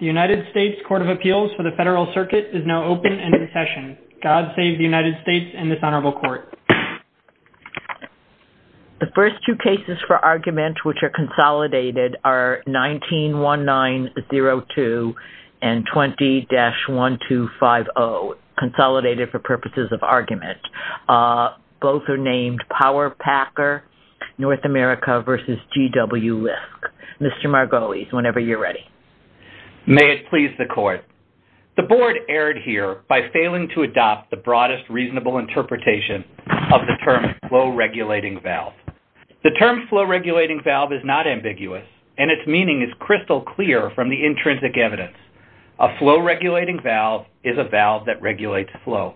The United States Court of Appeals for the Federal Circuit is now open and in session. God save the United States and this honorable court. The first two cases for argument which are consolidated are 19-1902 and 20-1250, consolidated for purposes of argument. Both are named Power-Packer North America v. G.W. Lisk. Mr. Margolis, whenever you're ready. May it please the court. The board erred here by failing to adopt the broadest reasonable interpretation of the term flow-regulating valve. The term flow-regulating valve is not ambiguous and its meaning is crystal clear from the intrinsic evidence. A flow-regulating valve is a valve that regulates flow.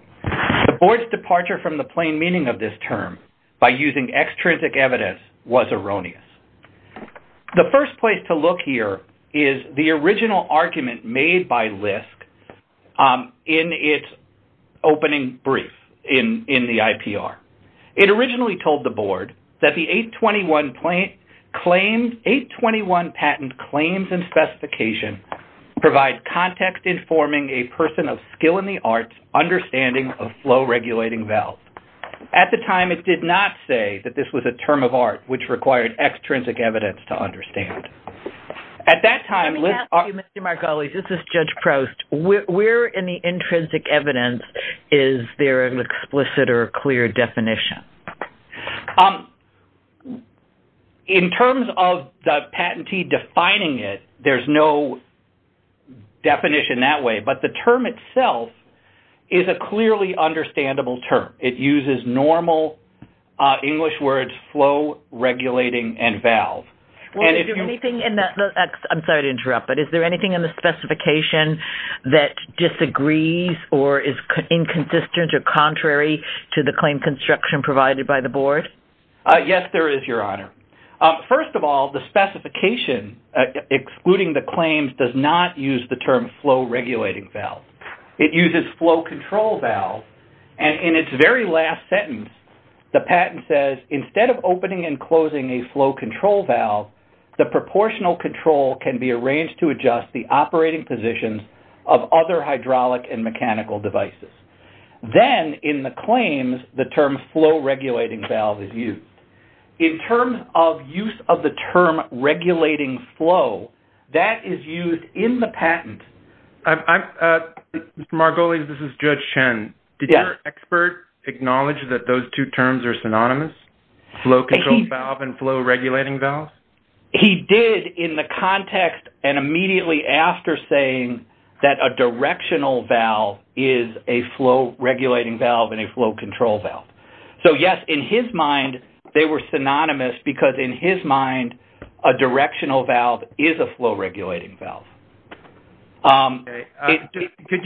The board's departure from the plain meaning of this term by using extrinsic evidence was erroneous. The first place to look here is the original argument made by Lisk in its opening brief in the IPR. It originally told the board that the 821 patent claims and specification provide context informing a person of skill in the arts understanding of flow-regulating valve. At the time, it did not say that this was a term of art which required extrinsic evidence to understand. At that time... Let me ask you, Mr. Margolis, this is Judge Proust, where in the intrinsic evidence is there an explicit or clear definition? In terms of the patentee defining it, there's no definition that way, but the term itself is a clearly understandable term. It uses normal English words, flow-regulating and valve. Well, is there anything in that, I'm sorry to interrupt, but is there anything in the specification that disagrees or is inconsistent or contrary to the claim construction provided by the board? Yes, there is, Your Honor. First of all, the specification excluding the claims does not use the term flow-regulating valve. It uses flow-control valve, and in its very last sentence, the patent says, instead of opening and closing a flow-control valve, the proportional control can be arranged to adjust the operating positions of other hydraulic and mechanical devices. Then, in the claims, the term flow-regulating valve is used. In terms of use of the term regulating flow, that is used in the patent. Mr. Margolis, this is Judge Chen. Did your expert acknowledge that those two terms are synonymous, flow-control valve and flow-regulating valve? He did in the context and immediately after saying that a directional valve is a flow-regulating valve and a flow-control valve. So, yes, in his mind, they were synonymous because, in his mind, a directional valve is a flow-regulating valve. Okay. Could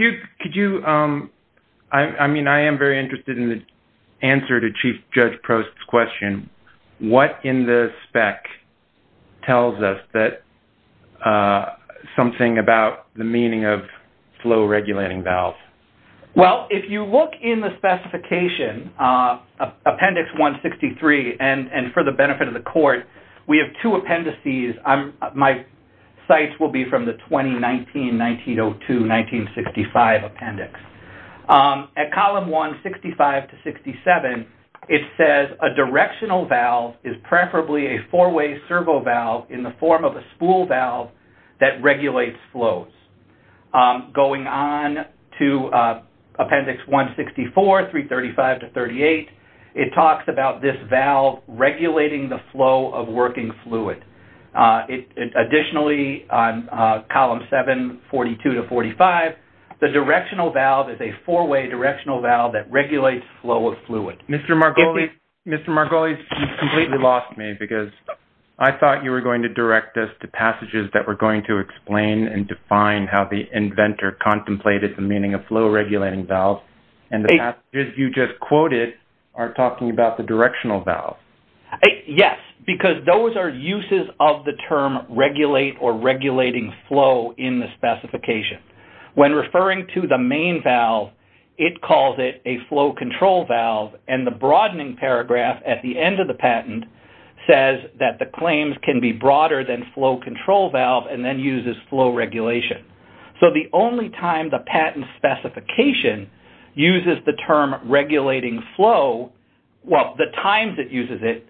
you, I mean, I am very interested in the answer to Chief Judge Prost's question. What in the spec tells us that something about the meaning of flow-regulating valve? Well, if you look in the specification, Appendix 163, and for the benefit of the Court, we have two appendices. My cites will be from the 2019-1902-1965 appendix. At column 165-67, it says, a directional valve is preferably a four-way servo valve in the form of a spool valve that regulates flows. Going on to Appendix 164, 335-38, it talks about this valve regulating the flow of working fluid. Additionally, on column 742-45, the directional valve is a four-way directional valve that regulates flow of fluid. Mr. Margolis, you completely lost me because I thought you were going to direct us to passages that were going to explain and define how the inventor contemplated the meaning of flow-regulating valve, and the passages you just quoted are talking about the directional valve. Yes, because those are uses of the term regulate or regulating flow in the specification. When referring to the main valve, it calls it a flow-control valve, and the broadening paragraph at the end of the patent says that the claims can be broader than flow-control valve and then uses flow regulation. So the only time the patent specification uses the term regulating flow, well, the times it uses it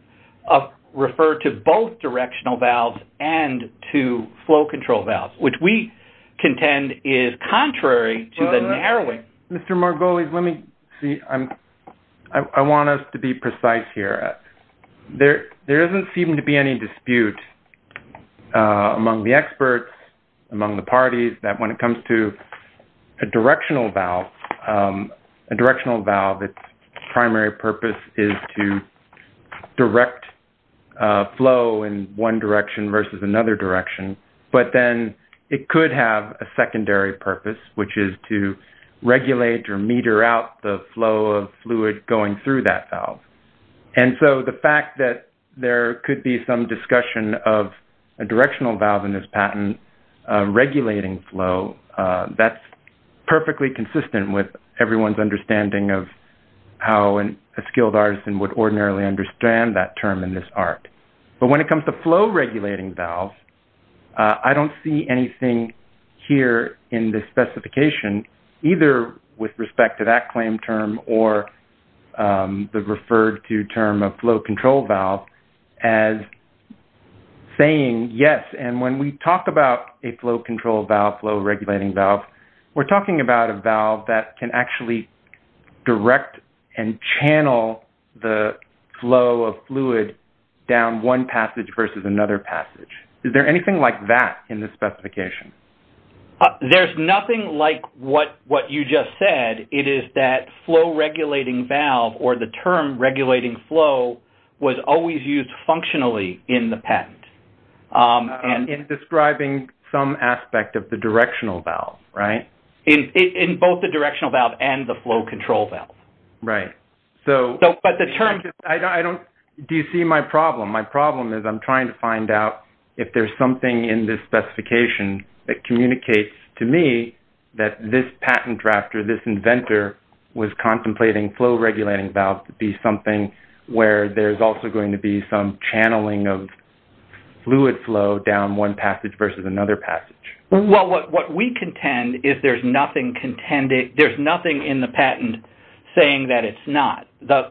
refer to both directional valves and to flow-control valves, which we contend is contrary to the narrowing. Mr. Margolis, let me see. I want us to be precise here. There doesn't seem to be any dispute among the experts, among the parties, that when it comes to a directional valve, a directional valve, its primary purpose is to direct flow in one direction versus another direction, but then it could have a secondary purpose, which is to regulate or meter out the flow of fluid going through that valve. And so the fact that there could be some discussion of a directional valve in this patent regulating flow, that's perfectly consistent with everyone's understanding of how a skilled artisan would ordinarily understand that term in this art. But when it comes to flow-regulating valves, I don't see anything here in the specification either with respect to that claim term or the referred-to term of flow-control valve as saying, yes, and when we talk about a flow-control valve, flow-regulating valve, we're talking about a valve that can actually direct and channel the flow of fluid down one passage versus another passage. Is there anything like that in this specification? There's nothing like what you just said. It is that flow-regulating valve or the term regulating flow was always used functionally in the patent. And in describing some aspect of the directional valve, right? In both the directional valve and the flow-control valve. Right. So, but the term... I don't... Do you see my problem? My problem is I'm trying to find out if there's something in this specification that communicates to me that this patent drafter, this inventor, was contemplating flow-regulating valve to be something where there's also going to be some channeling of fluid flow down one passage versus another passage. Well, what we contend is there's nothing contended... There's nothing in the patent saying that it's not. The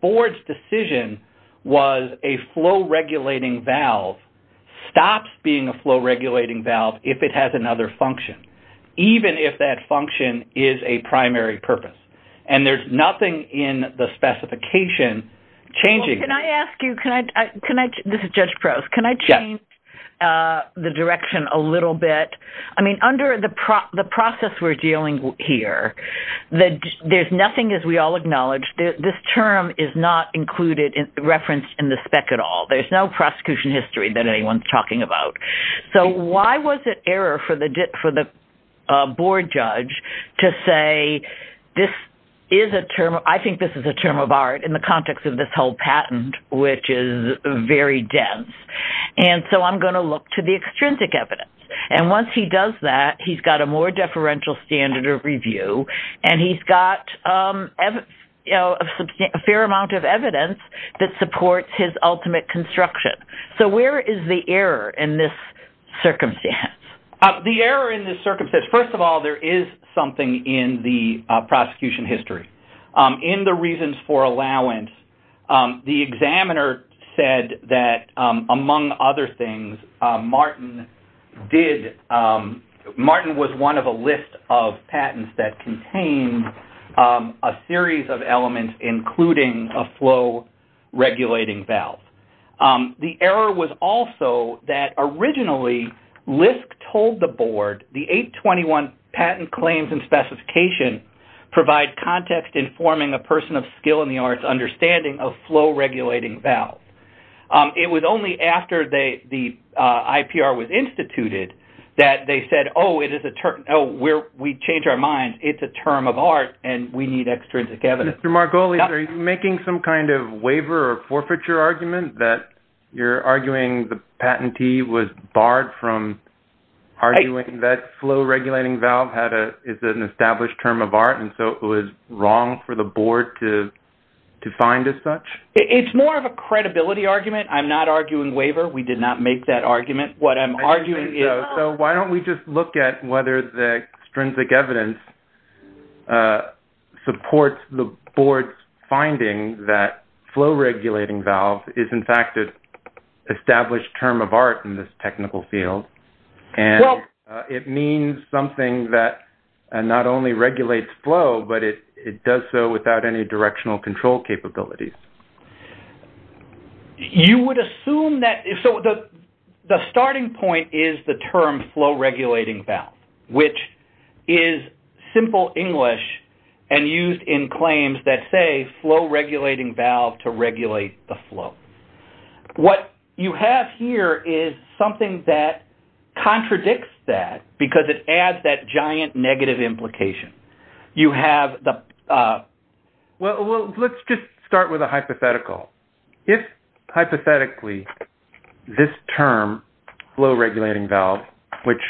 board's decision was a flow-regulating valve stops being a flow-regulating valve if it has another function, even if that function is a primary purpose. And there's nothing in the specification changing that. Can I ask you... Can I... This is Judge Prost. Can I change the direction a little bit? I mean, under the process we're dealing here, there's nothing, as we all acknowledge, this term is not included, referenced in the spec at all. There's no prosecution history that anyone's talking about. So why was it error for the board judge to say this is a term... I think this is a term of art in the context of this whole patent, which is very dense. And so I'm going to look to the extrinsic evidence. And once he does that, he's got a more deferential standard of review, and he's got a fair amount of evidence that supports his ultimate construction. So where is the error in this circumstance? The error in this circumstance, first of all, there is something in the prosecution history. In the reasons for allowance, the examiner said that, among other things, Martin did... Martin was one of a list of patents that contained a series of elements, including a flow-regulating valve. The error was also that, originally, LISC told the board, the 821 Patent Claims and Specification provide context informing a person of skill in the arts understanding of flow-regulating valve. It was only after the IPR was instituted that they said, oh, it is a term... We changed our minds. It's a term of art, and we need extrinsic evidence. Mr. Margolis, are you making some kind of waiver or forfeiture argument that you're arguing the patentee was barred from arguing that flow-regulating valve is an established term of art, and so it was wrong for the board to find as such? It's more of a credibility argument. I'm not arguing waiver. We did not make that argument. What I'm arguing is... ...is the board's finding that flow-regulating valve is, in fact, an established term of art in this technical field, and it means something that not only regulates flow, but it does so without any directional control capabilities. You would assume that... The starting point is the term flow-regulating valve, which is simple English and used in that say, flow-regulating valve to regulate the flow. What you have here is something that contradicts that because it adds that giant negative implication. You have the... Well, let's just start with a hypothetical. If, hypothetically, this term, flow-regulating valve, which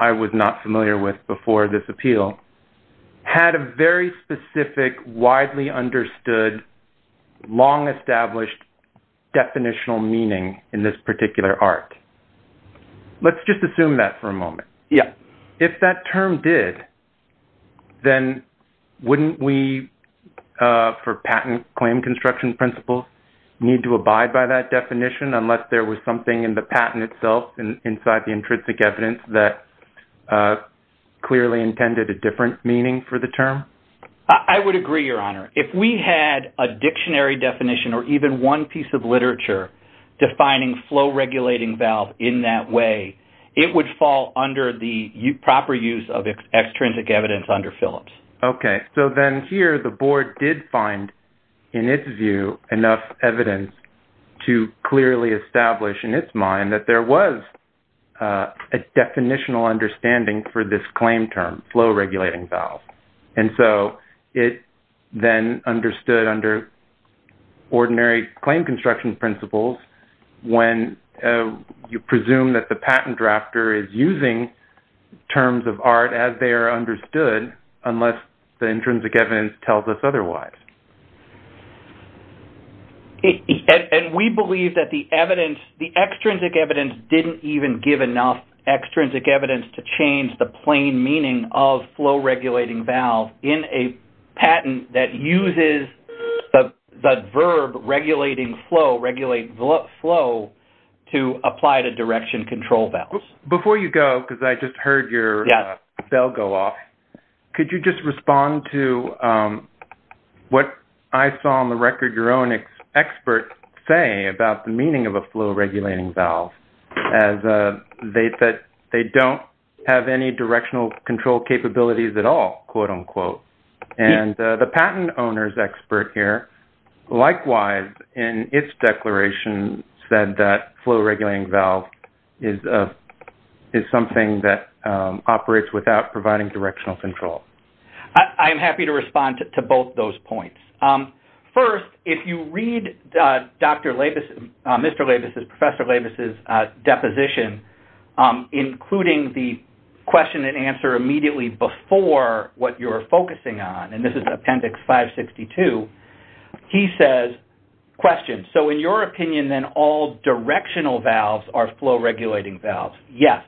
I was not familiar with before this appeal, had a very specific, widely understood, long-established definitional meaning in this particular art, let's just assume that for a moment. If that term did, then wouldn't we, for patent claim construction principles, need to abide by that definition unless there was something in the patent itself and inside the intrinsic evidence that clearly intended a different meaning for the term? I would agree, Your Honor. If we had a dictionary definition or even one piece of literature defining flow-regulating valve in that way, it would fall under the proper use of extrinsic evidence under Phillips. Okay. So then here, the board did find, in its view, enough evidence to clearly establish in its opinion that there was a definitional understanding for this claim term, flow-regulating valve. And so it then understood under ordinary claim construction principles when you presume that the patent drafter is using terms of art as they are understood unless the intrinsic evidence tells us otherwise. And we believe that the evidence, the extrinsic evidence, didn't even give enough extrinsic evidence to change the plain meaning of flow-regulating valve in a patent that uses the verb regulating flow, regulate flow, to apply to direction control valves. Before you go, because I just heard your bell go off, could you just respond to what I saw on the record your own expert say about the meaning of a flow-regulating valve as they don't have any directional control capabilities at all, quote-unquote. And the patent owner's expert here, likewise, in its declaration said that flow-regulating valve is something that operates without providing directional control. I am happy to respond to both those points. First, if you read Dr. Labus, Mr. Labus's, Professor Labus's deposition, including the question and answer immediately before what you're focusing on, and this is Appendix 562, he says, question, so in your opinion, then, all directional valves are flow-regulating valves? Yes.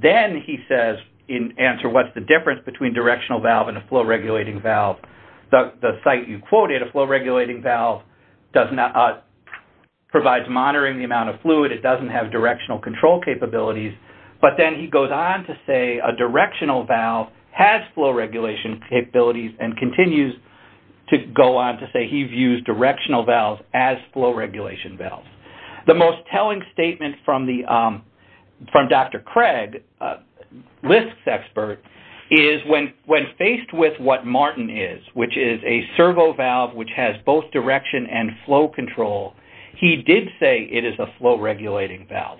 Then he says, in answer, what's the difference between directional valve and a flow-regulating valve? The site you quoted, a flow-regulating valve provides monitoring the amount of fluid. It doesn't have directional control capabilities. But then he goes on to say a directional valve has flow-regulation capabilities and continues to go on to say he views directional valves as flow-regulation valves. The most telling statement from Dr. Craig, LISC's expert, is when faced with what Martin is, which is a servo valve which has both direction and flow control, he did say it is a flow-regulating valve.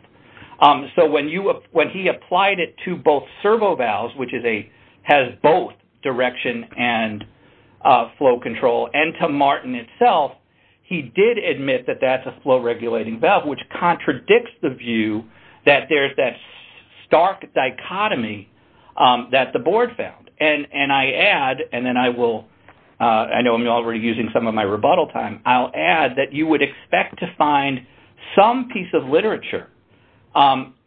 So when he applied it to both servo valves, which has both direction and flow control, and to Martin itself, he did admit that that's a flow-regulating valve, which contradicts the view that there's that stark dichotomy that the board found. And I add, and then I will, I know I'm already using some of my rebuttal time, I'll add that you would expect to find some piece of literature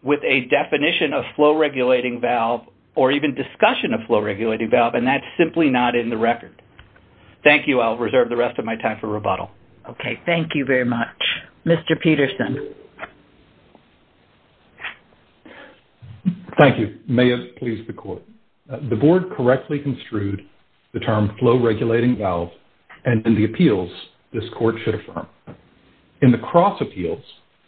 with a definition of flow-regulating valve or even discussion of flow-regulating valve, and that's simply not in the record. Thank you. I'll reserve the rest of my time for rebuttal. Okay. Thank you very much. Mr. Peterson. Thank you. May it please the court. The board correctly construed the term flow-regulating valve and in the appeals, this court should confirm. In the cross appeals,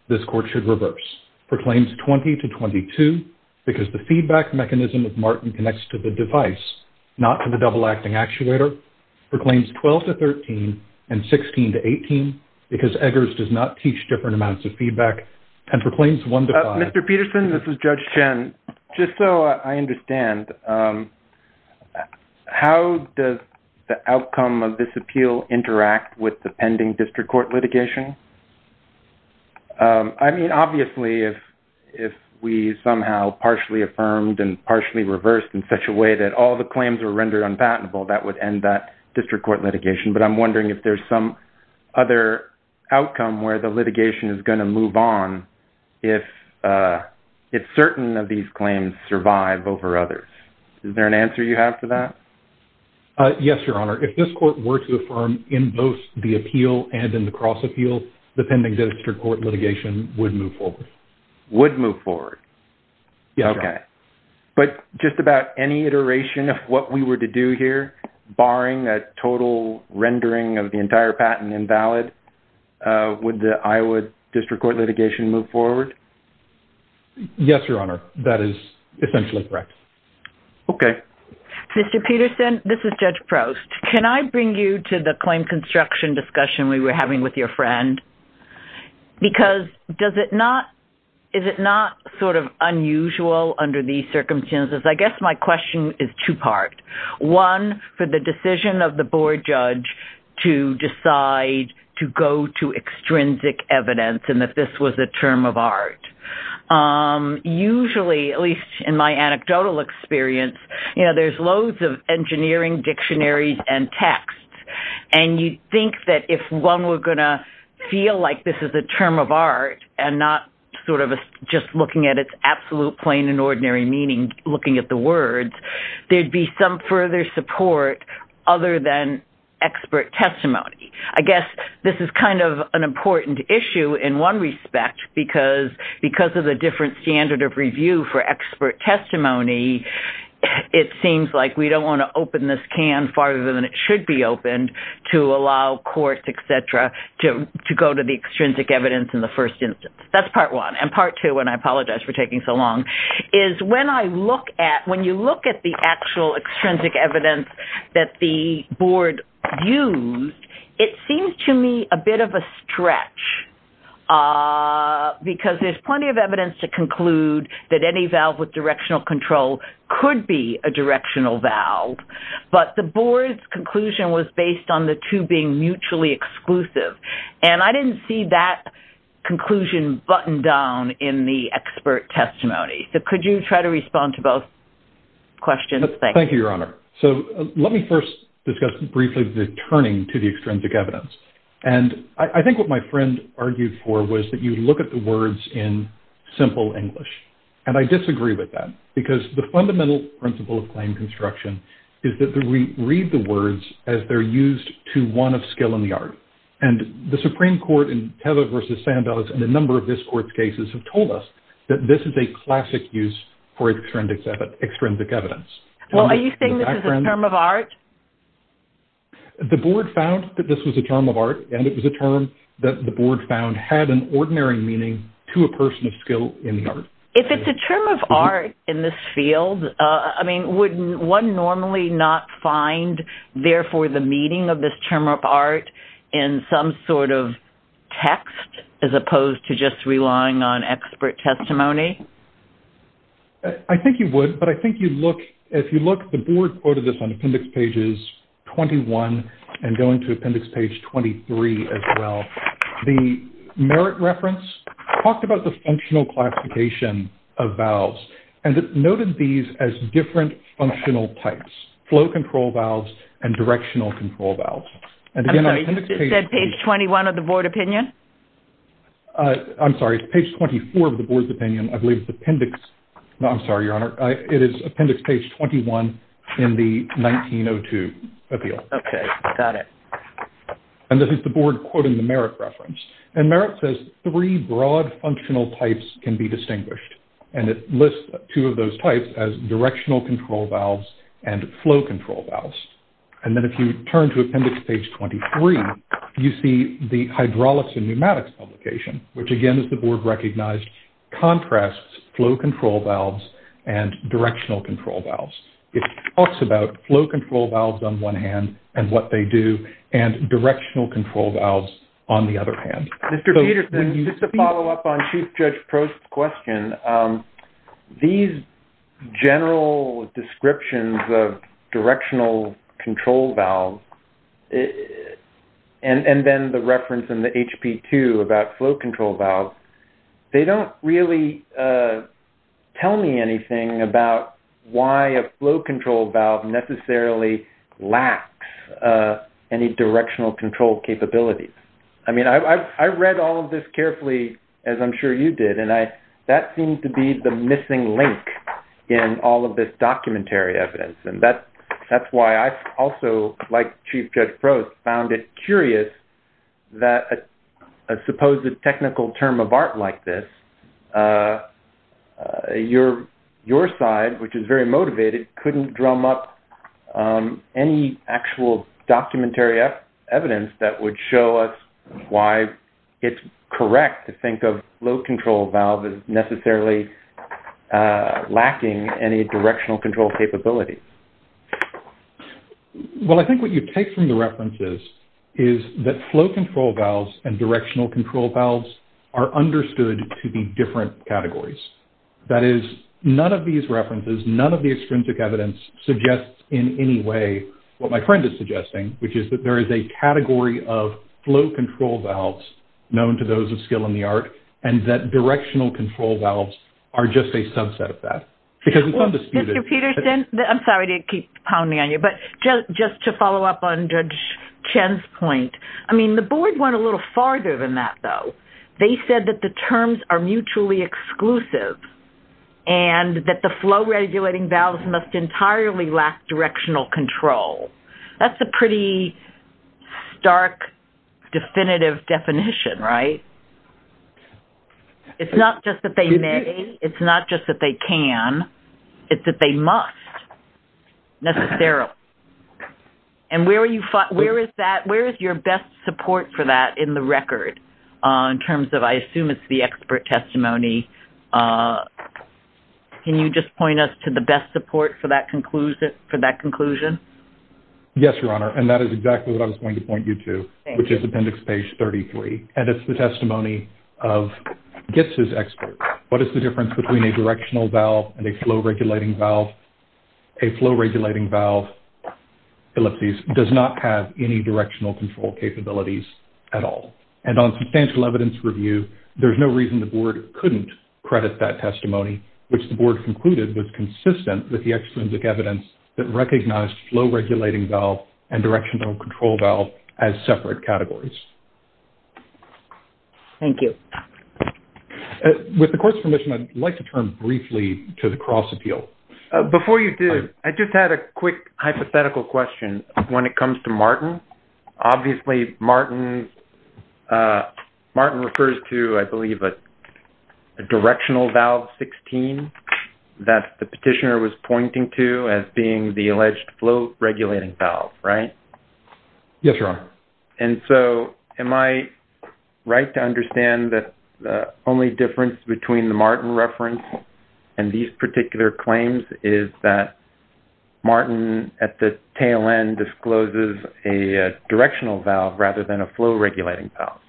this court should reverse, proclaims 20 to 22 because the feedback mechanism of Martin connects to the device, not to the double acting actuator, proclaims 12 to 13 and 16 to 18 because Eggers does not teach different amounts of feedback, and proclaims one to five. Mr. Peterson, this is Judge Chen, just so I understand, how does the outcome of this district court litigation? I mean, obviously, if we somehow partially affirmed and partially reversed in such a way that all the claims were rendered unpatentable, that would end that district court litigation, but I'm wondering if there's some other outcome where the litigation is going to move on if certain of these claims survive over others. Is there an answer you have for that? Yes, Your Honor. If this court were to affirm in both the appeal and in the cross appeal, the pending district court litigation would move forward. Would move forward? Yes, Your Honor. Okay. But just about any iteration of what we were to do here, barring that total rendering of the entire patent invalid, would the Iowa district court litigation move forward? Yes, Your Honor. That is essentially correct. Okay. Mr. Peterson, this is Judge Prost. Can I bring you to the claim construction discussion we were having with your friend? Because does it not, is it not sort of unusual under these circumstances? I guess my question is two-part, one, for the decision of the board judge to decide to go to extrinsic evidence and that this was a term of art. Usually, at least in my anecdotal experience, you know, there's loads of engineering dictionaries and texts. And you'd think that if one were going to feel like this is a term of art and not sort of just looking at its absolute plain and ordinary meaning, looking at the words, there'd be some further support other than expert testimony. I guess this is kind of an important issue in one respect because of the different standard of review for expert testimony, it seems like we don't want to open this can farther than it should be opened to allow courts, et cetera, to go to the extrinsic evidence in the first instance. That's part one. And part two, and I apologize for taking so long, is when I look at, when you look at the actual extrinsic evidence that the board used, it seems to me a bit of a stretch because there's plenty of evidence to conclude that any valve with directional control could be a directional valve, but the board's conclusion was based on the two being mutually exclusive. And I didn't see that conclusion buttoned down in the expert testimony. So could you try to respond to both questions? Thank you. Thank you, Your Honor. So let me first discuss briefly the turning to the extrinsic evidence. And I think what my friend argued for was that you look at the words in simple English. And I disagree with that because the fundamental principle of claim construction is that we read the words as they're used to one of skill in the art. And the Supreme Court in Teva v. Sandoz and a number of this court's cases have told us that this is a classic use for extrinsic evidence. Well, are you saying this is a term of art? The board found that this was a term of art, and it was a term that the board found had an ordinary meaning to a person of skill in the art. If it's a term of art in this field, I mean, wouldn't one normally not find, therefore, the meaning of this term of art in some sort of text as opposed to just relying on expert testimony? I think you would, but I think you look, if you look, the board quoted this on appendix pages 21 and going to appendix page 23 as well. The merit reference talked about the functional classification of valves and noted these as different functional types, flow control valves and directional control valves. I'm sorry, you said page 21 of the board opinion? I'm sorry, it's page 24 of the board's opinion. I believe it's appendix, no, I'm sorry, Your Honor. It is appendix page 21 in the 1902 appeal. Okay, got it. And this is the board quoting the merit reference. And merit says three broad functional types can be distinguished. And it lists two of those types as directional control valves and flow control valves. And then if you turn to appendix page 23, you see the hydraulics and pneumatics publication, which again, as the board recognized, contrasts flow control valves and directional control valves. It talks about flow control valves on one hand and what they do and directional control valves on the other hand. Mr. Peterson, just to follow up on Chief Judge Prost's question, these general descriptions of directional control valves and then the reference in the HP2 about flow control valves, they don't really tell me anything about why a flow control valve necessarily lacks any directional control capabilities. I mean, I read all of this carefully, as I'm sure you did, and that seemed to be the missing link in all of this documentary evidence. And that's why I also, like Chief Judge Prost, found it curious that a supposed technical term of art like this, your side, which is very motivated, couldn't drum up any actual documentary evidence that would show us why it's correct to think of flow control valve as necessarily lacking any directional control capabilities. Well, I think what you take from the references is that flow control valves and directional control valves are understood to be different categories. That is, none of these references, none of the extrinsic evidence suggests in any way what my friend is suggesting, which is that there is a category of flow control valves known to those of skill in the art and that directional control valves are just a subset of that. Mr. Peterson, I'm sorry to keep pounding on you, but just to follow up on Judge Chen's point, I mean, the board went a little farther than that, though. They said that the terms are mutually exclusive and that the flow regulating valves must entirely lack directional control. That's a pretty stark, definitive definition, right? It's not just that they may, it's not just that they can, it's that they must, necessarily. And where is your best support for that in the record in terms of, I assume it's the expert testimony? Can you just point us to the best support for that conclusion? Yes, Your Honor, and that is exactly what I was going to point you to, which is Appendix Page 33, and it's the testimony of GITS's expert. What is the difference between a directional valve and a flow regulating valve? A flow regulating valve, Philipses, does not have any directional control capabilities at all. And on substantial evidence review, there's no reason the board couldn't credit that testimony, which the board concluded was consistent with the extrinsic evidence that recognized flow regulating valve and directional control valve as separate categories. Thank you. With the court's permission, I'd like to turn briefly to the cross appeal. Before you do, I just had a quick hypothetical question when it comes to Martin. Obviously, Martin refers to, I believe, a directional valve 16 that the petitioner was pointing to as being the alleged flow regulating valve, right? Yes, Your Honor. And so am I right to understand that the only difference between the Martin reference and these particular claims is that Martin at the tail end discloses a directional valve rather than a flow regulating valve?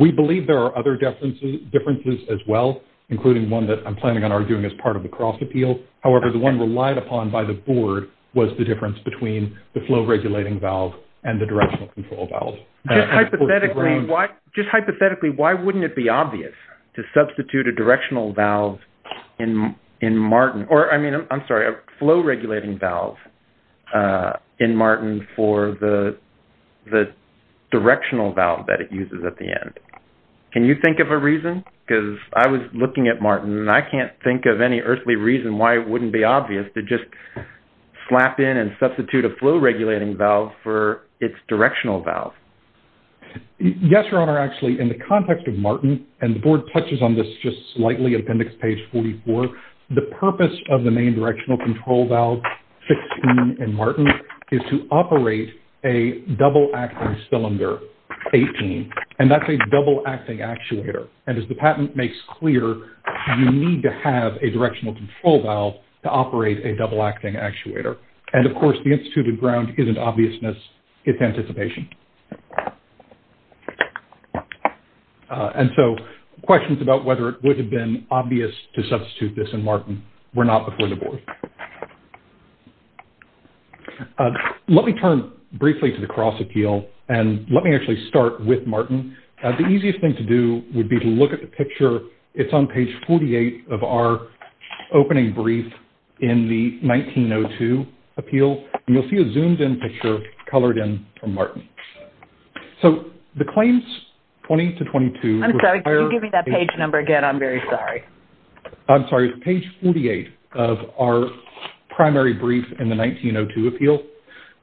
We believe there are other differences as well, including one that I'm planning on arguing as part of the cross appeal. However, the one relied upon by the board was the difference between the flow regulating valve and the directional control valve. Just hypothetically, why wouldn't it be obvious to substitute a flow regulating valve in Martin for the directional valve that it uses at the end? Can you think of a reason? Because I was looking at Martin, and I can't think of any earthly reason why it wouldn't be obvious to just slap in and substitute a flow regulating valve for its directional valve. Yes, Your Honor. Actually, in the context of Martin, and the board touches on this just slightly in appendix page 44, the purpose of the main directional control valve 16 in Martin is to operate a double acting cylinder 18. And that's a double acting actuator. And as the patent makes clear, you need to have a directional control valve to operate a double acting actuator. And of course, the instituted ground isn't obviousness, it's anticipation. And so questions about whether it would have been obvious to substitute this in Martin were not before the board. Let me turn briefly to the cross appeal. And let me actually start with Martin. The easiest thing to do would be to look at the picture. It's on page 48 of our opening brief in the 1902 appeal. And you'll see a zoomed in picture colored in from Martin. So the claims 20 to 22... I'm sorry, can you give me that page number again? I'm very sorry. I'm sorry, it's page 48 of our primary brief in the 1902 appeal.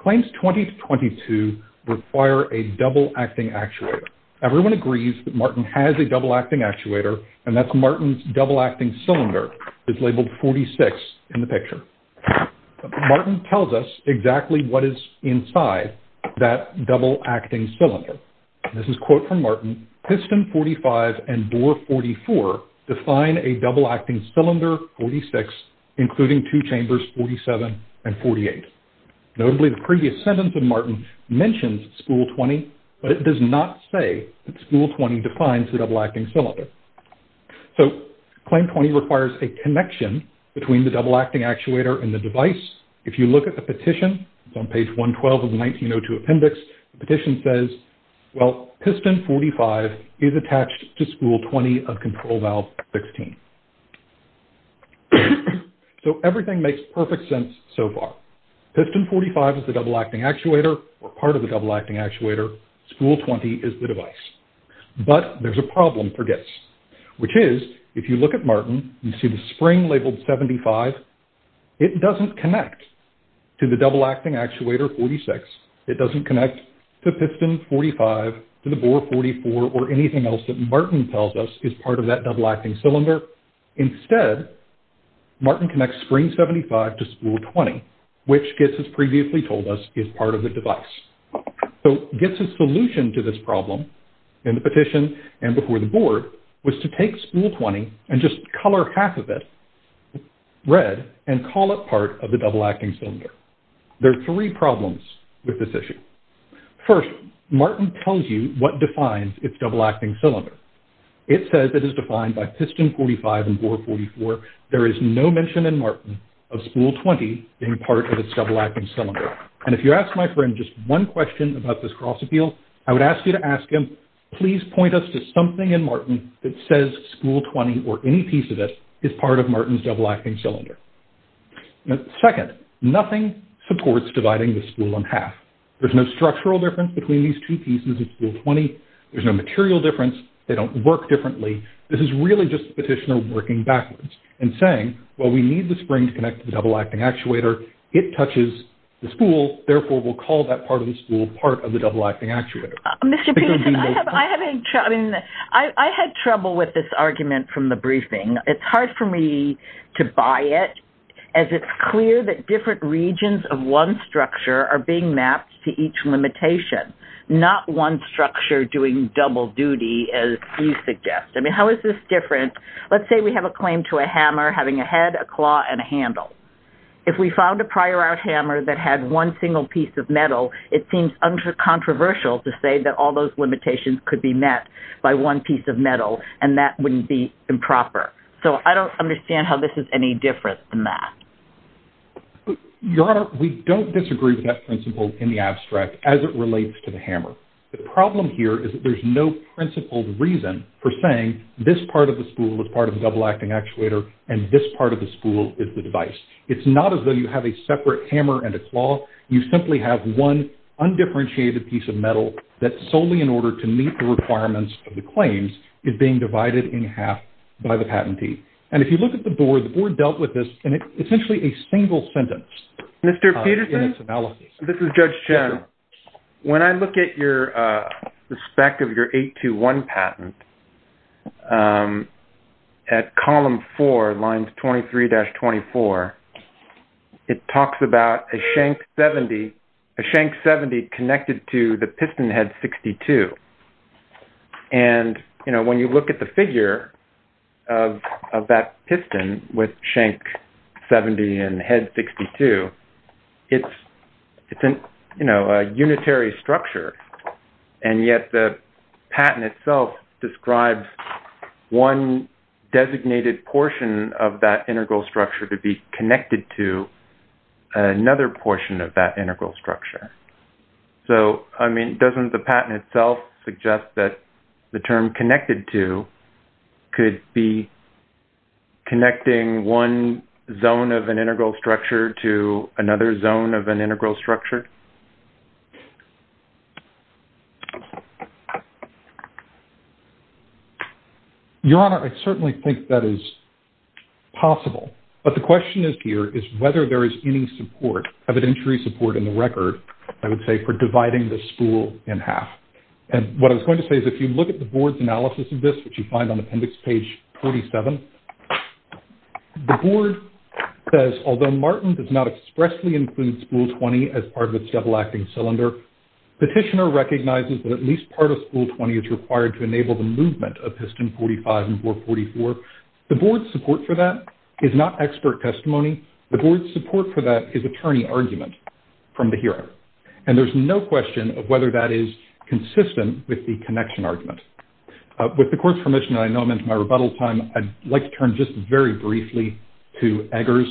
Claims 20 to 22 require a double acting actuator. Everyone agrees that Martin has a double acting actuator, and that's Martin's double acting cylinder is labeled 46 in the picture. Martin tells us exactly what is inside that double acting cylinder. This is a quote from Martin. Piston 45 and bore 44 define a double acting cylinder 46, including two chambers 47 and 48. Notably, the previous sentence of Martin mentions spool 20, but it does not say that spool 20 defines the double acting cylinder. So claim 20 requires a connection between the double acting actuator and the device. If you look at the petition, it's on page 112 of the 1902 appendix. The petition says, well, piston 45 is attached to spool 20 of control valve 16. So everything makes perfect sense so far. Piston 45 is the double acting actuator or part of the double acting actuator. Spool 20 is the device. But there's a problem for this, which is if you look at Martin, you see the spring labeled 75. It doesn't connect to the double acting actuator 46. It doesn't connect to piston 45, to the bore 44, or anything else that Martin tells us is part of that double acting cylinder. Instead, Martin connects spring 75 to spool 20, which GITS has previously told us is part of the device. So GITS's solution to this problem in the petition and before the board was to take spool 20 and just color half of it red and call it part of the double acting cylinder. There are three problems with this issue. First, Martin tells you what defines its double acting cylinder. It says it is defined by piston 45 and bore 44. There is no mention in Martin of spool 20 being part of its double acting cylinder. And if you ask my friend just one question about this cross appeal, I would ask you to ask him, please point us to something in Martin that says spool 20 or any piece of this is part of Martin's double acting cylinder. Second, nothing supports dividing the spool in half. There's no structural difference between these two pieces of spool 20. There's no material difference. They don't work differently. This is really just the petitioner working backwards and saying, well, we need the spring to connect to the double acting actuator. It touches the spool. Therefore, we'll call that part of the spool part of the double acting actuator. Mr. Peterson, I had trouble with this argument from the briefing. It's hard for me to buy it as it's clear that different regions of one structure are being mapped to each limitation, not one structure doing double duty as you suggest. I mean, how is this different? Let's say we have a claim to a hammer having a head, a claw, and a handle. If we found a prior art hammer that had one single piece of metal, it seems controversial to say that all those limitations could be met by one piece of metal and that wouldn't be improper. So I don't understand how this is any different than that. Your Honor, we don't disagree with that principle in the abstract as it relates to the hammer. The problem here is that there's no principled reason for saying this part of the spool is part of the double acting actuator and this part of the spool is the device. It's not as though you have a separate hammer and a claw. You simply have one undifferentiated piece of metal that solely in order to meet the requirements of the claims is being divided in half by the patentee. And if you look at the board, the board dealt with this in essentially a single sentence. Mr. Peterson? This is Judge Chen. When I look at your respect of your 821 patent at column 4, lines 23-24, it talks about a shank 70 connected to the piston head 62. And when you look at the figure of that piston with shank 70 and head 62, it's a unitary structure and yet the patent itself describes one designated portion of that integral structure to be connected to another portion of that integral structure. So, I mean, doesn't the patent itself suggest that the term connected to could be connecting one zone of an integral structure to another zone of an integral structure? Your Honor, I certainly think that is possible. But the question is here is whether there is any support, evidentiary support in the record, I would say for dividing the spool in half. And what I was going to say is if you look at the board's analysis of this, which you find on appendix page 47, the board says although Martin does not expressly include spool 20 as part of its double-acting cylinder, petitioner recognizes that at least part of spool 20 is required to enable the movement of piston 45 and 444. The board's support for that is not expert testimony. The board's support for that is attorney argument from the hearing. And there's no question of whether that is consistent with the connection argument. With the court's permission, I know I'm into my rebuttal time. I'd like to turn just very briefly to Eggers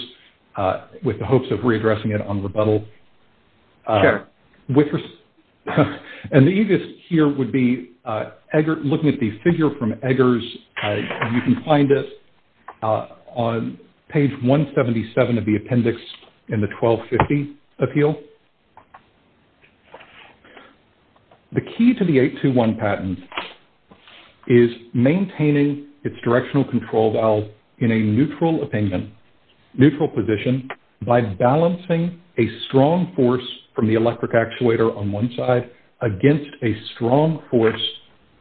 with the hopes of readdressing it on rebuttal. Sure. And the easiest here would be looking at the figure from Eggers. You can find this on page 177 of the appendix in the 1250 appeal. The key to the 821 patent is maintaining its directional control valve in a neutral opinion, neutral position, by balancing a strong force from the electric actuator on one side against a strong force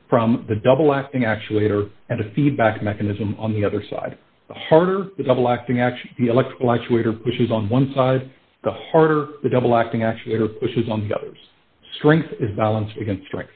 from the double-acting actuator and a feedback mechanism on the other side. The harder the electrical actuator pushes on one side, the harder the double-acting actuator pushes on the others. Strength is balanced against strength.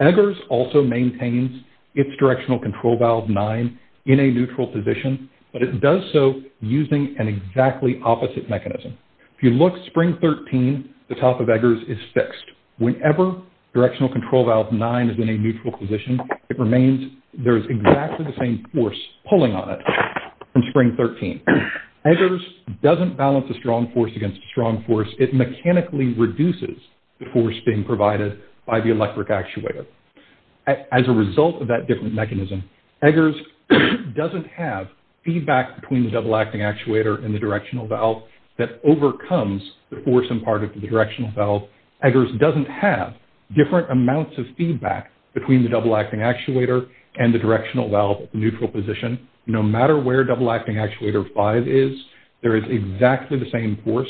Eggers also maintains its directional control valve 9 in a neutral position, but it does so using an exactly opposite mechanism. If you look, spring 13, the top of Eggers is fixed. Whenever directional control valve 9 is in a neutral position, there is exactly the same force pulling on it in spring 13. Eggers doesn't balance a strong force against a strong force. It mechanically reduces the force being provided by the electric actuator. As a result of that different mechanism, Eggers doesn't have feedback between the double-acting actuator and the directional valve that overcomes the force imparted to the directional valve. Eggers doesn't have different amounts of feedback between the double-acting actuator and the directional valve at the neutral position. No matter where double-acting actuator 5 is, there is exactly the same force,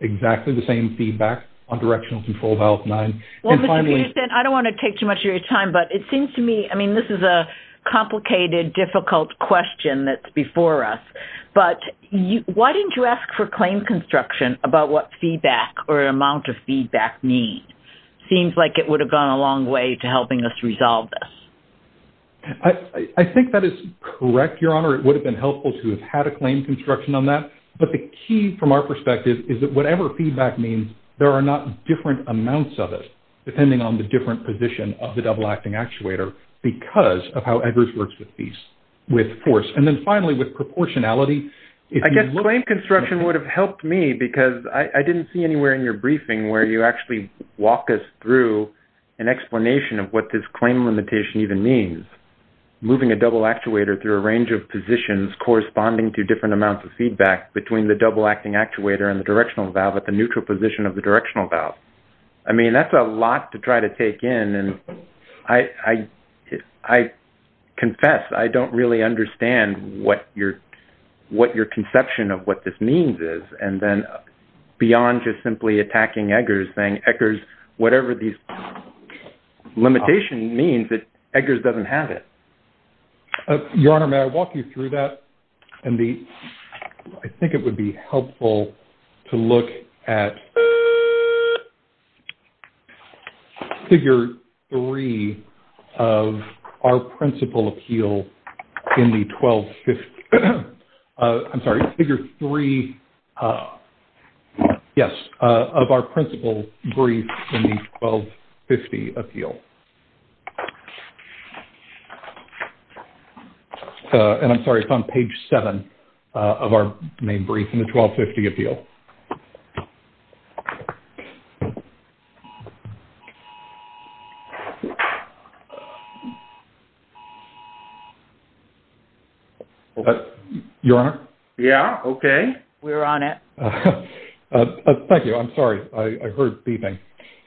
exactly the same feedback on directional control valve 9. Mr. Peterson, I don't want to take too much of your time, but it seems to me, I mean, this is a complicated, difficult question that's before us, but why didn't you ask for claim construction about what feedback or amount of feedback means? It seems like it would have gone a long way to helping us resolve this. I think that is correct, Your Honor. It would have been helpful to have had a claim construction on that, but the key from our perspective is that whatever feedback means, there are not different amounts of it, depending on the different position of the double-acting actuator, because of how Eggers works with force. And then finally, with proportionality. I guess claim construction would have helped me, because I didn't see anywhere in your briefing where you actually walk us through an explanation of what this claim limitation even means, moving a double actuator through a range of positions corresponding to different amounts of feedback between the double-acting actuator and the directional valve at the neutral position of the directional valve. I mean, that's a lot to try to take in, and I confess I don't really understand what your conception of what this means is, and then beyond just simply attacking Eggers, saying Eggers, whatever these limitations mean, Eggers doesn't have it. Your Honor, may I walk you through that? I think it would be helpful to look at figure three of our principal appeal in the 1250. I'm sorry, figure three, yes, of our principal brief in the 1250 appeal. And I'm sorry, it's on page seven of our main brief in the 1250 appeal. Your Honor? Yeah, okay. We're on it. Thank you, I'm sorry, I heard beeping.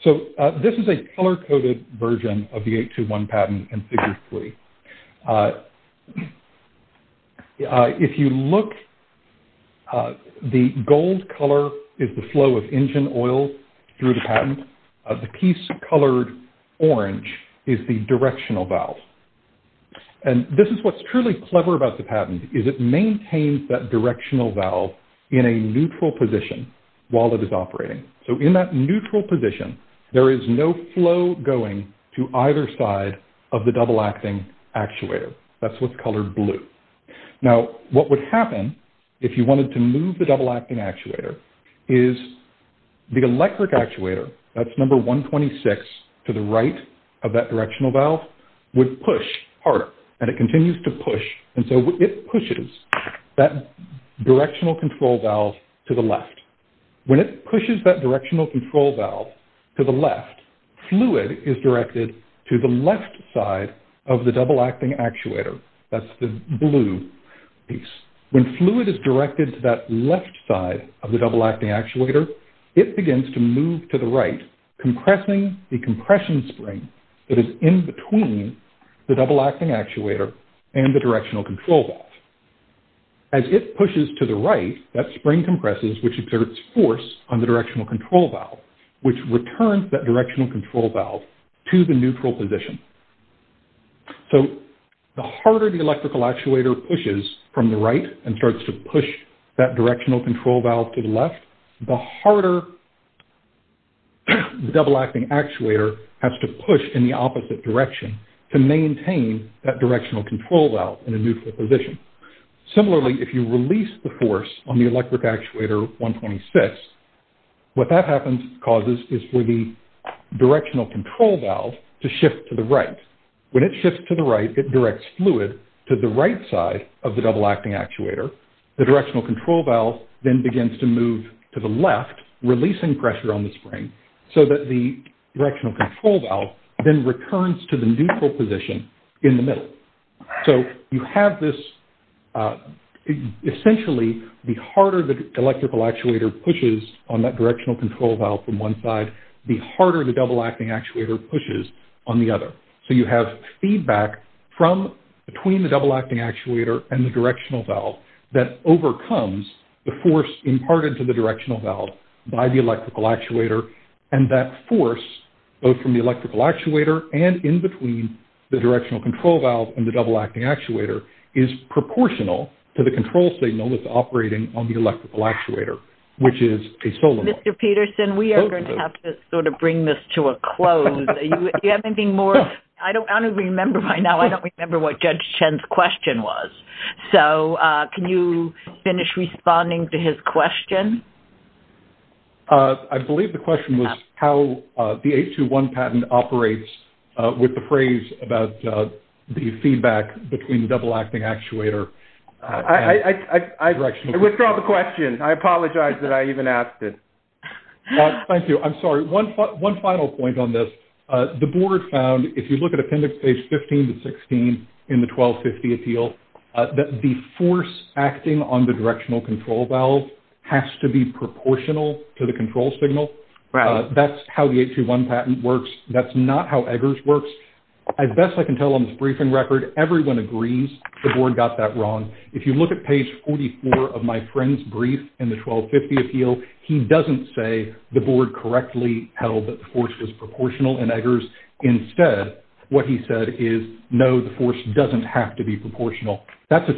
So this is a color-coded version of the 821 patent in figure three. If you look, the gold color is the flow of engine oil through the patent. The piece colored orange is the directional valve. And this is what's truly clever about the patent, is it maintains that directional valve in a neutral position while it is operating. So in that neutral position, there is no flow going to either side of the double-acting actuator. That's what's colored blue. Now, what would happen, if you wanted to move the double-acting actuator, is the electric actuator, that's number 126, to the right of that directional valve, would push harder. And it continues to push, and so it pushes that directional control valve to the left. When it pushes that directional control valve to the left, fluid is directed to the left side of the double-acting actuator. That's the blue piece. When fluid is directed to that left side of the double-acting actuator, it begins to move to the right, compressing the compression spring that is in between the double-acting actuator and the directional control valve. As it pushes to the right, that spring compresses, which exerts force on the directional control valve, which returns that directional control valve to the neutral position. So the harder the electrical actuator pushes from the right and starts to push that directional control valve to the left, the harder the double-acting actuator has to push in the opposite direction to maintain that directional control valve in a neutral position. Similarly, if you release the force on the electric actuator 126, what that causes is for the directional control valve to shift to the right. When it shifts to the right, it directs fluid to the right side of the double-acting actuator. The directional control valve then begins to move to the left, releasing pressure on the spring, so that the directional control valve then returns to the neutral position in the middle. So you have this, essentially, the harder the electrical actuator pushes on that directional control valve from one side, the harder the double-acting actuator pushes on the other. So you have feedback from, between the double-acting actuator and the directional valve that overcomes the force imparted to the directional valve by the electrical actuator, and that force, both from the electrical actuator and in between the directional control valve and the double-acting actuator, is proportional to the control signal that's operating on the electrical actuator, which is a solar one. Mr. Peterson, we are going to have to sort of bring this to a close. Do you have anything more? I don't remember right now. I don't remember what Judge Chen's question was. So can you finish responding to his question? I believe the question was how the 821 patent operates with the phrase about the feedback between the double-acting actuator and the directional valve. I withdrew the question. I apologize that I even asked it. Thank you. I'm sorry. One final point on this. The board found, if you look at appendix page 15 to 16 in the 1250 appeal, that the force acting on the directional control valve has to be proportional to the control signal. That's how the 821 patent works. That's not how Eggers works. As best I can tell on this briefing record, everyone agrees the board got that wrong. If you look at page 44 of my friend's brief in the 1250 appeal, he doesn't say the board correctly held that the force was proportional in Eggers. Instead, what he said is, no, the force doesn't have to be proportional. That's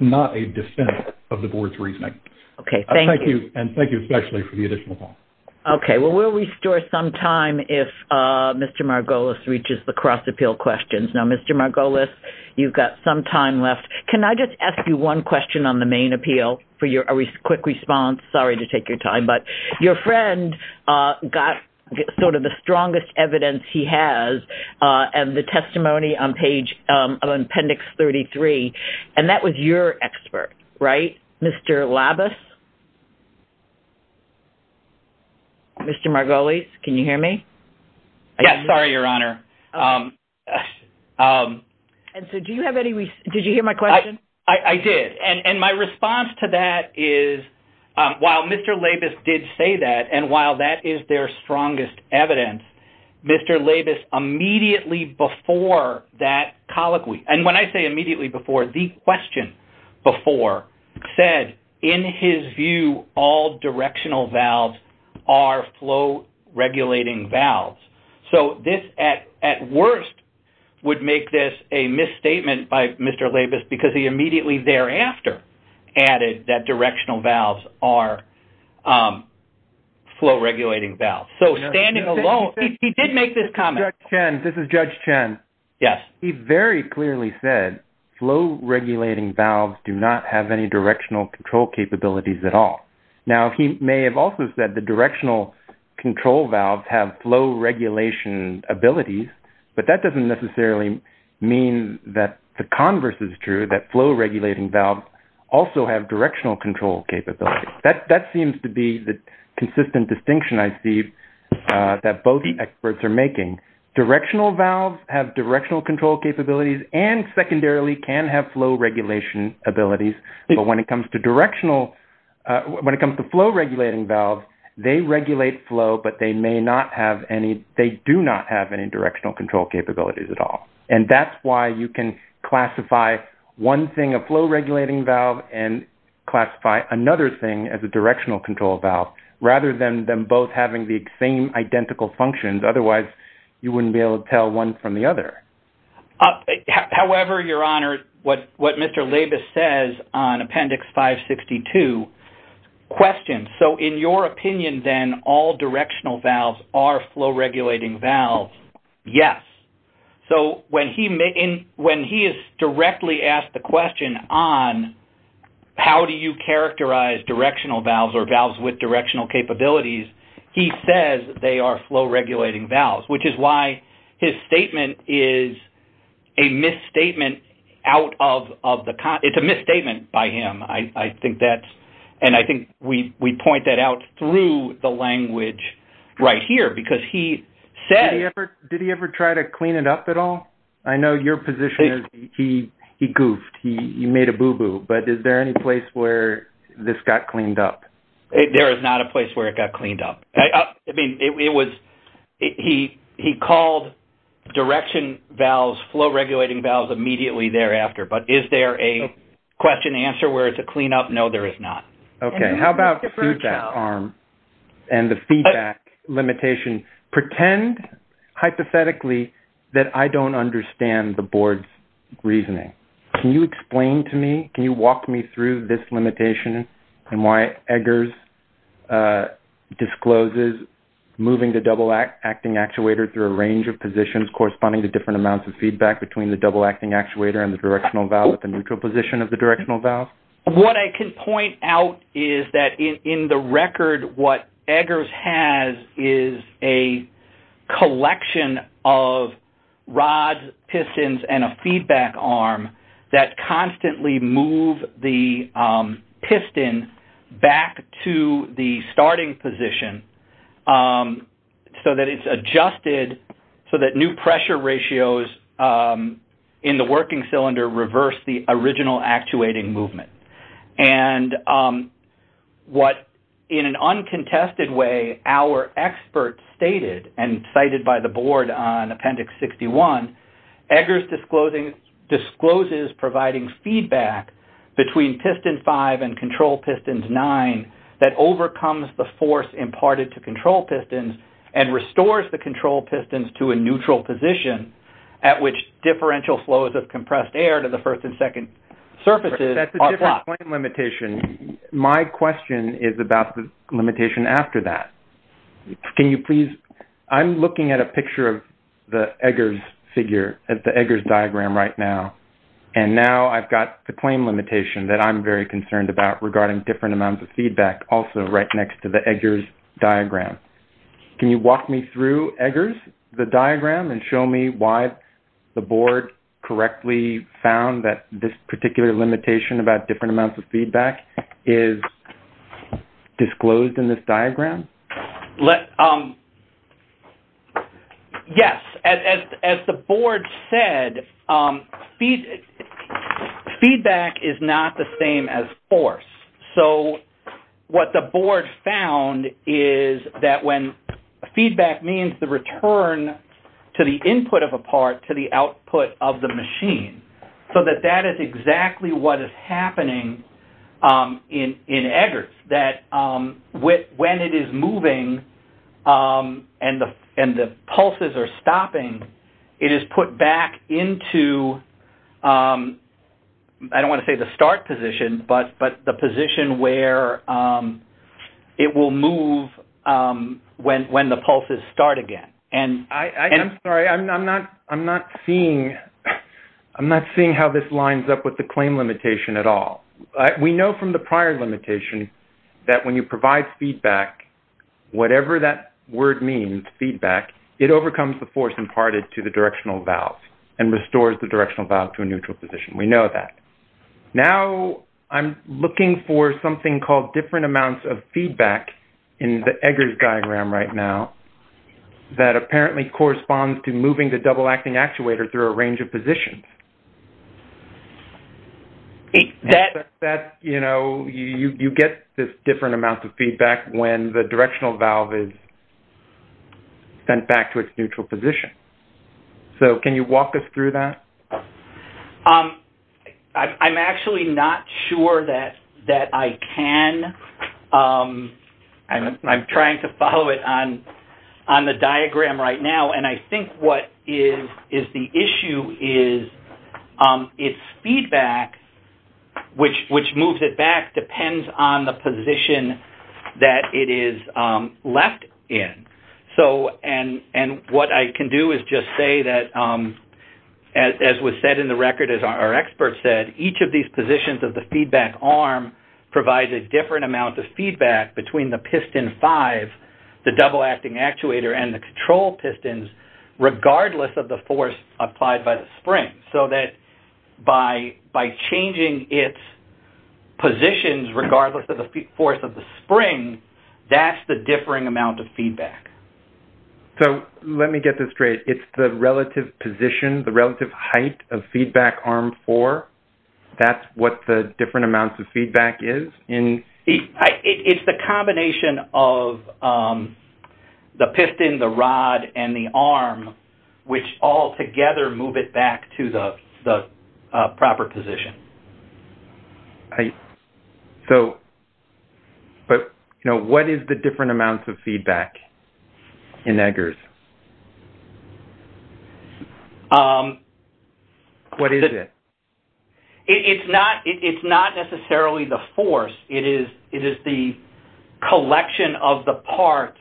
not a defense of the board's reasoning. Thank you. Thank you especially for the additional time. Okay. We'll restore some time if Mr. Margolis reaches the cross-appeal questions. Now, Mr. Margolis, you've got some time left. Can I just ask you one question on the main appeal for a quick response? Sorry to take your time. Your friend got sort of the strongest evidence he has in the testimony on appendix 33, and that was your expert, right? Mr. Labus? Mr. Margolis, can you hear me? Yes. Sorry, Your Honor. Did you hear my question? I did. And my response to that is, while Mr. Labus did say that, and while that is their strongest evidence, Mr. Labus immediately before that colloquy, and when I say immediately before, the question before, said, in his view, all directional valves are flow-regulating valves. So this, at worst, would make this a misstatement by Mr. Labus because he immediately thereafter added that directional valves are flow-regulating valves. So standing alone, he did make this comment. This is Judge Chen. Yes. He very clearly said flow-regulating valves do not have any directional control capabilities at all. Now, he may have also said the directional control valves have flow-regulation abilities, but that doesn't necessarily mean that the converse is true, that flow-regulating valves also have directional control capabilities. That seems to be the consistent distinction, I see, that both the experts are making. Directional valves have directional control capabilities and secondarily can have flow-regulation abilities, but when it comes to flow-regulating valves, they regulate flow, but they do not have any directional control capabilities at all, and that's why you can classify one thing, a flow-regulating valve, and classify another thing as a directional control valve rather than them both having the same identical functions. Otherwise, you wouldn't be able to tell one from the other. However, Your Honor, what Mr. Labus says on Appendix 562, question, so in your opinion, then, all directional valves are flow-regulating valves? Yes. So when he is directly asked the question on how do you characterize directional valves or valves with directional capabilities, he says they are flow-regulating valves, which is why his statement is a misstatement out of the context. It's a misstatement by him, and I think we point that out through the language right here because he says... Did he ever try to clean it up at all? I know your position is he goofed, he made a boo-boo, but is there any place where this got cleaned up? There is not a place where it got cleaned up. I mean, it was... He called direction valves, flow-regulating valves, immediately thereafter, but is there a question-answer where it's a clean-up? No, there is not. Okay, how about feedback arm and the feedback limitation? Pretend, hypothetically, that I don't understand the Board's reasoning. Can you explain to me, can you walk me through this limitation and why Eggers discloses moving the double-acting actuator through a range of positions corresponding to different amounts of feedback between the double-acting actuator and the directional valve at the neutral position of the directional valve? What I can point out is that, in the record, what Eggers has is a collection of rods, pistons, and a feedback arm that constantly move the piston back to the starting position so that it's adjusted so that new pressure ratios in the working cylinder reverse the original actuating movement. And what, in an uncontested way, our experts stated and cited by the Board on Appendix 61, Eggers discloses providing feedback between piston 5 and control piston 9 that overcomes the force imparted to control pistons and restores the control pistons to a neutral position at which differential flows of compressed air to the first and second surfaces are blocked. That's a different claim limitation. My question is about the limitation after that. Can you please, I'm looking at a picture of the Eggers figure, the Eggers diagram right now, and now I've got the claim limitation that I'm very concerned about regarding different amounts of feedback, also right next to the Eggers diagram. Can you walk me through Eggers, the diagram, and show me why the Board correctly found that this particular limitation about different amounts of feedback is disclosed in this diagram? Yes. As the Board said, feedback is not the same as force. So what the Board found is that when feedback means the return to the input of a part to the output of the machine, so that that is exactly what is happening in Eggers, that when it is moving and the pulses are stopping, it is put back into, I don't want to say the start position, but the position where it will move when the pulses start again. I'm sorry, I'm not seeing how this lines up with the claim limitation at all. We know from the prior limitation that when you provide feedback, whatever that word means, feedback, it overcomes the force imparted to the directional valve and restores the directional valve to a neutral position. We know that. Now I'm looking for something called different amounts of feedback in the Eggers diagram right now that apparently corresponds to moving the double-acting actuator through a range of positions. That's, you know, you get this different amount of feedback when the directional valve is sent back to its neutral position. So can you walk us through that? I'm actually not sure that I can. I'm trying to follow it on the diagram right now, and I think what is the issue is its feedback, which moves it back, depends on the position that it is left in. And what I can do is just say that, as was said in the record, as our expert said, each of these positions of the feedback arm provides a different amount of feedback between the piston 5, the double-acting actuator, and the control pistons, regardless of the force applied by the spring, so that by changing its positions regardless of the force of the spring, that's the differing amount of feedback. So let me get this straight. It's the relative position, the relative height of feedback arm 4? That's what the different amounts of feedback is? It's the combination of the piston, the rod, and the arm, which all together move it back to the proper position. So what is the different amounts of feedback in Eggers? What is it? It's not necessarily the force. It is the collection of the parts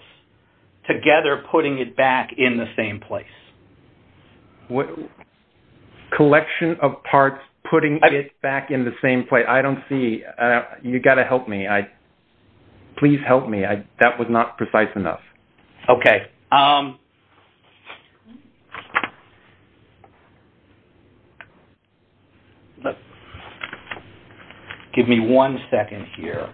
together putting it back in the same place. Collection of parts putting it back in the same place. I don't see. You've got to help me. Please help me. That was not precise enough. Okay. Give me one second here.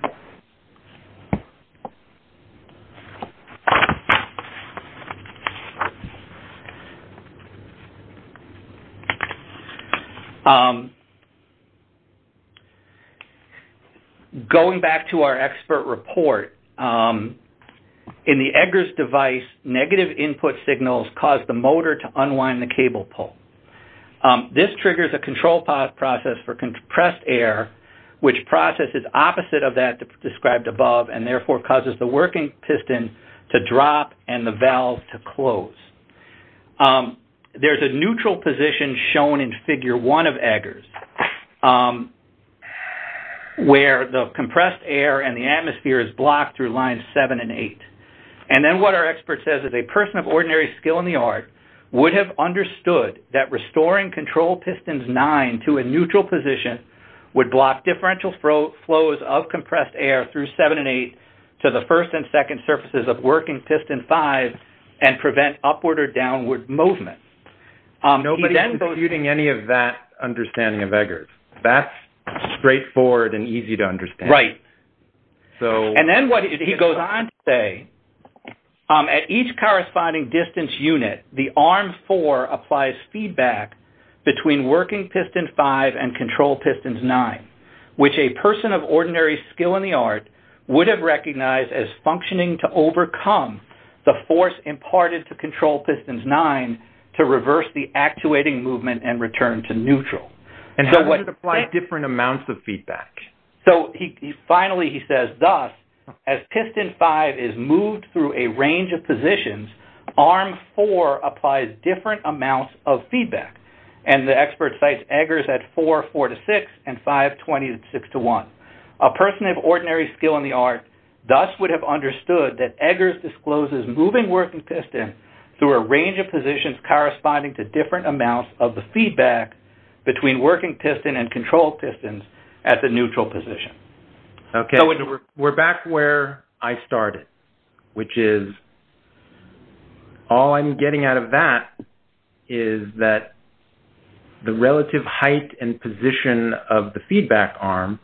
Going back to our expert report, in the Eggers device, negative input signals cause the motor to unwind the cable pull. This triggers a control process for compressed air, which process is opposite of that described above and therefore causes the working piston to drop and the valve to close. There's a neutral position shown in Figure 1 of Eggers where the compressed air and the atmosphere is blocked through lines 7 and 8. And then what our expert says is, a person of ordinary skill in the art would have understood that restoring control pistons 9 to a neutral position would block differential flows of compressed air through 7 and 8 to the first and second surfaces of working piston 5 and prevent upward or downward movement. Nobody is computing any of that understanding of Eggers. That's straightforward and easy to understand. Right. And then what he goes on to say, at each corresponding distance unit, the arm 4 applies feedback between working piston 5 and control pistons 9, which a person of ordinary skill in the art would have recognized as functioning to overcome the force imparted to control pistons 9 to reverse the actuating movement and return to neutral. And does it apply different amounts of feedback? Finally, he says, thus, as piston 5 is moved through a range of positions, arm 4 applies different amounts of feedback. And the expert cites Eggers at 4, 4 to 6, and 5, 20, 6 to 1. A person of ordinary skill in the art thus would have understood that Eggers discloses moving working piston through a range of positions corresponding to different amounts of the feedback between working piston and control pistons at the neutral position. Okay. We're back where I started, which is all I'm getting out of that is that the relative height and position of the feedback arm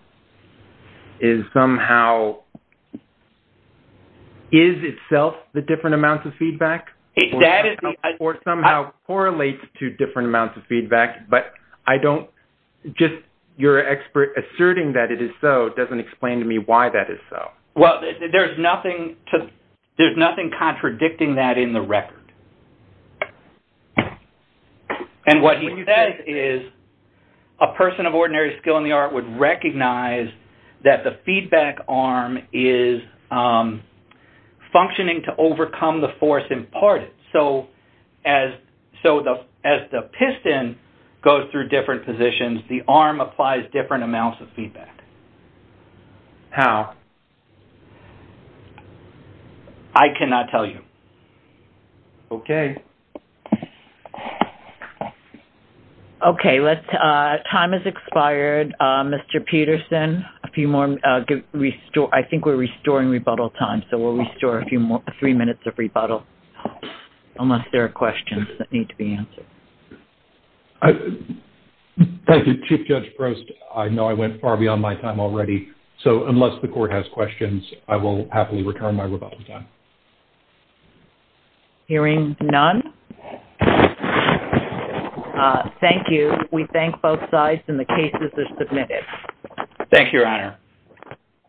is somehow... Or somehow correlates to different amounts of feedback, but I don't... Just your expert asserting that it is so doesn't explain to me why that is so. Well, there's nothing contradicting that in the record. And what he says is a person of ordinary skill in the art would recognize that the feedback arm is functioning to overcome the force imparted. So as the piston goes through different positions, the arm applies different amounts of feedback. How? I cannot tell you. Okay. Okay, time has expired. Mr. Peterson, a few more... I think we're restoring rebuttal time, so we'll restore three minutes of rebuttal unless there are questions that need to be answered. Thank you, Chief Judge Prost. I know I went far beyond my time already, so unless the court has questions, I will happily return my rebuttal time. Hearing none. Thank you. We thank both sides, and the cases are submitted. Thank you, Your Honor.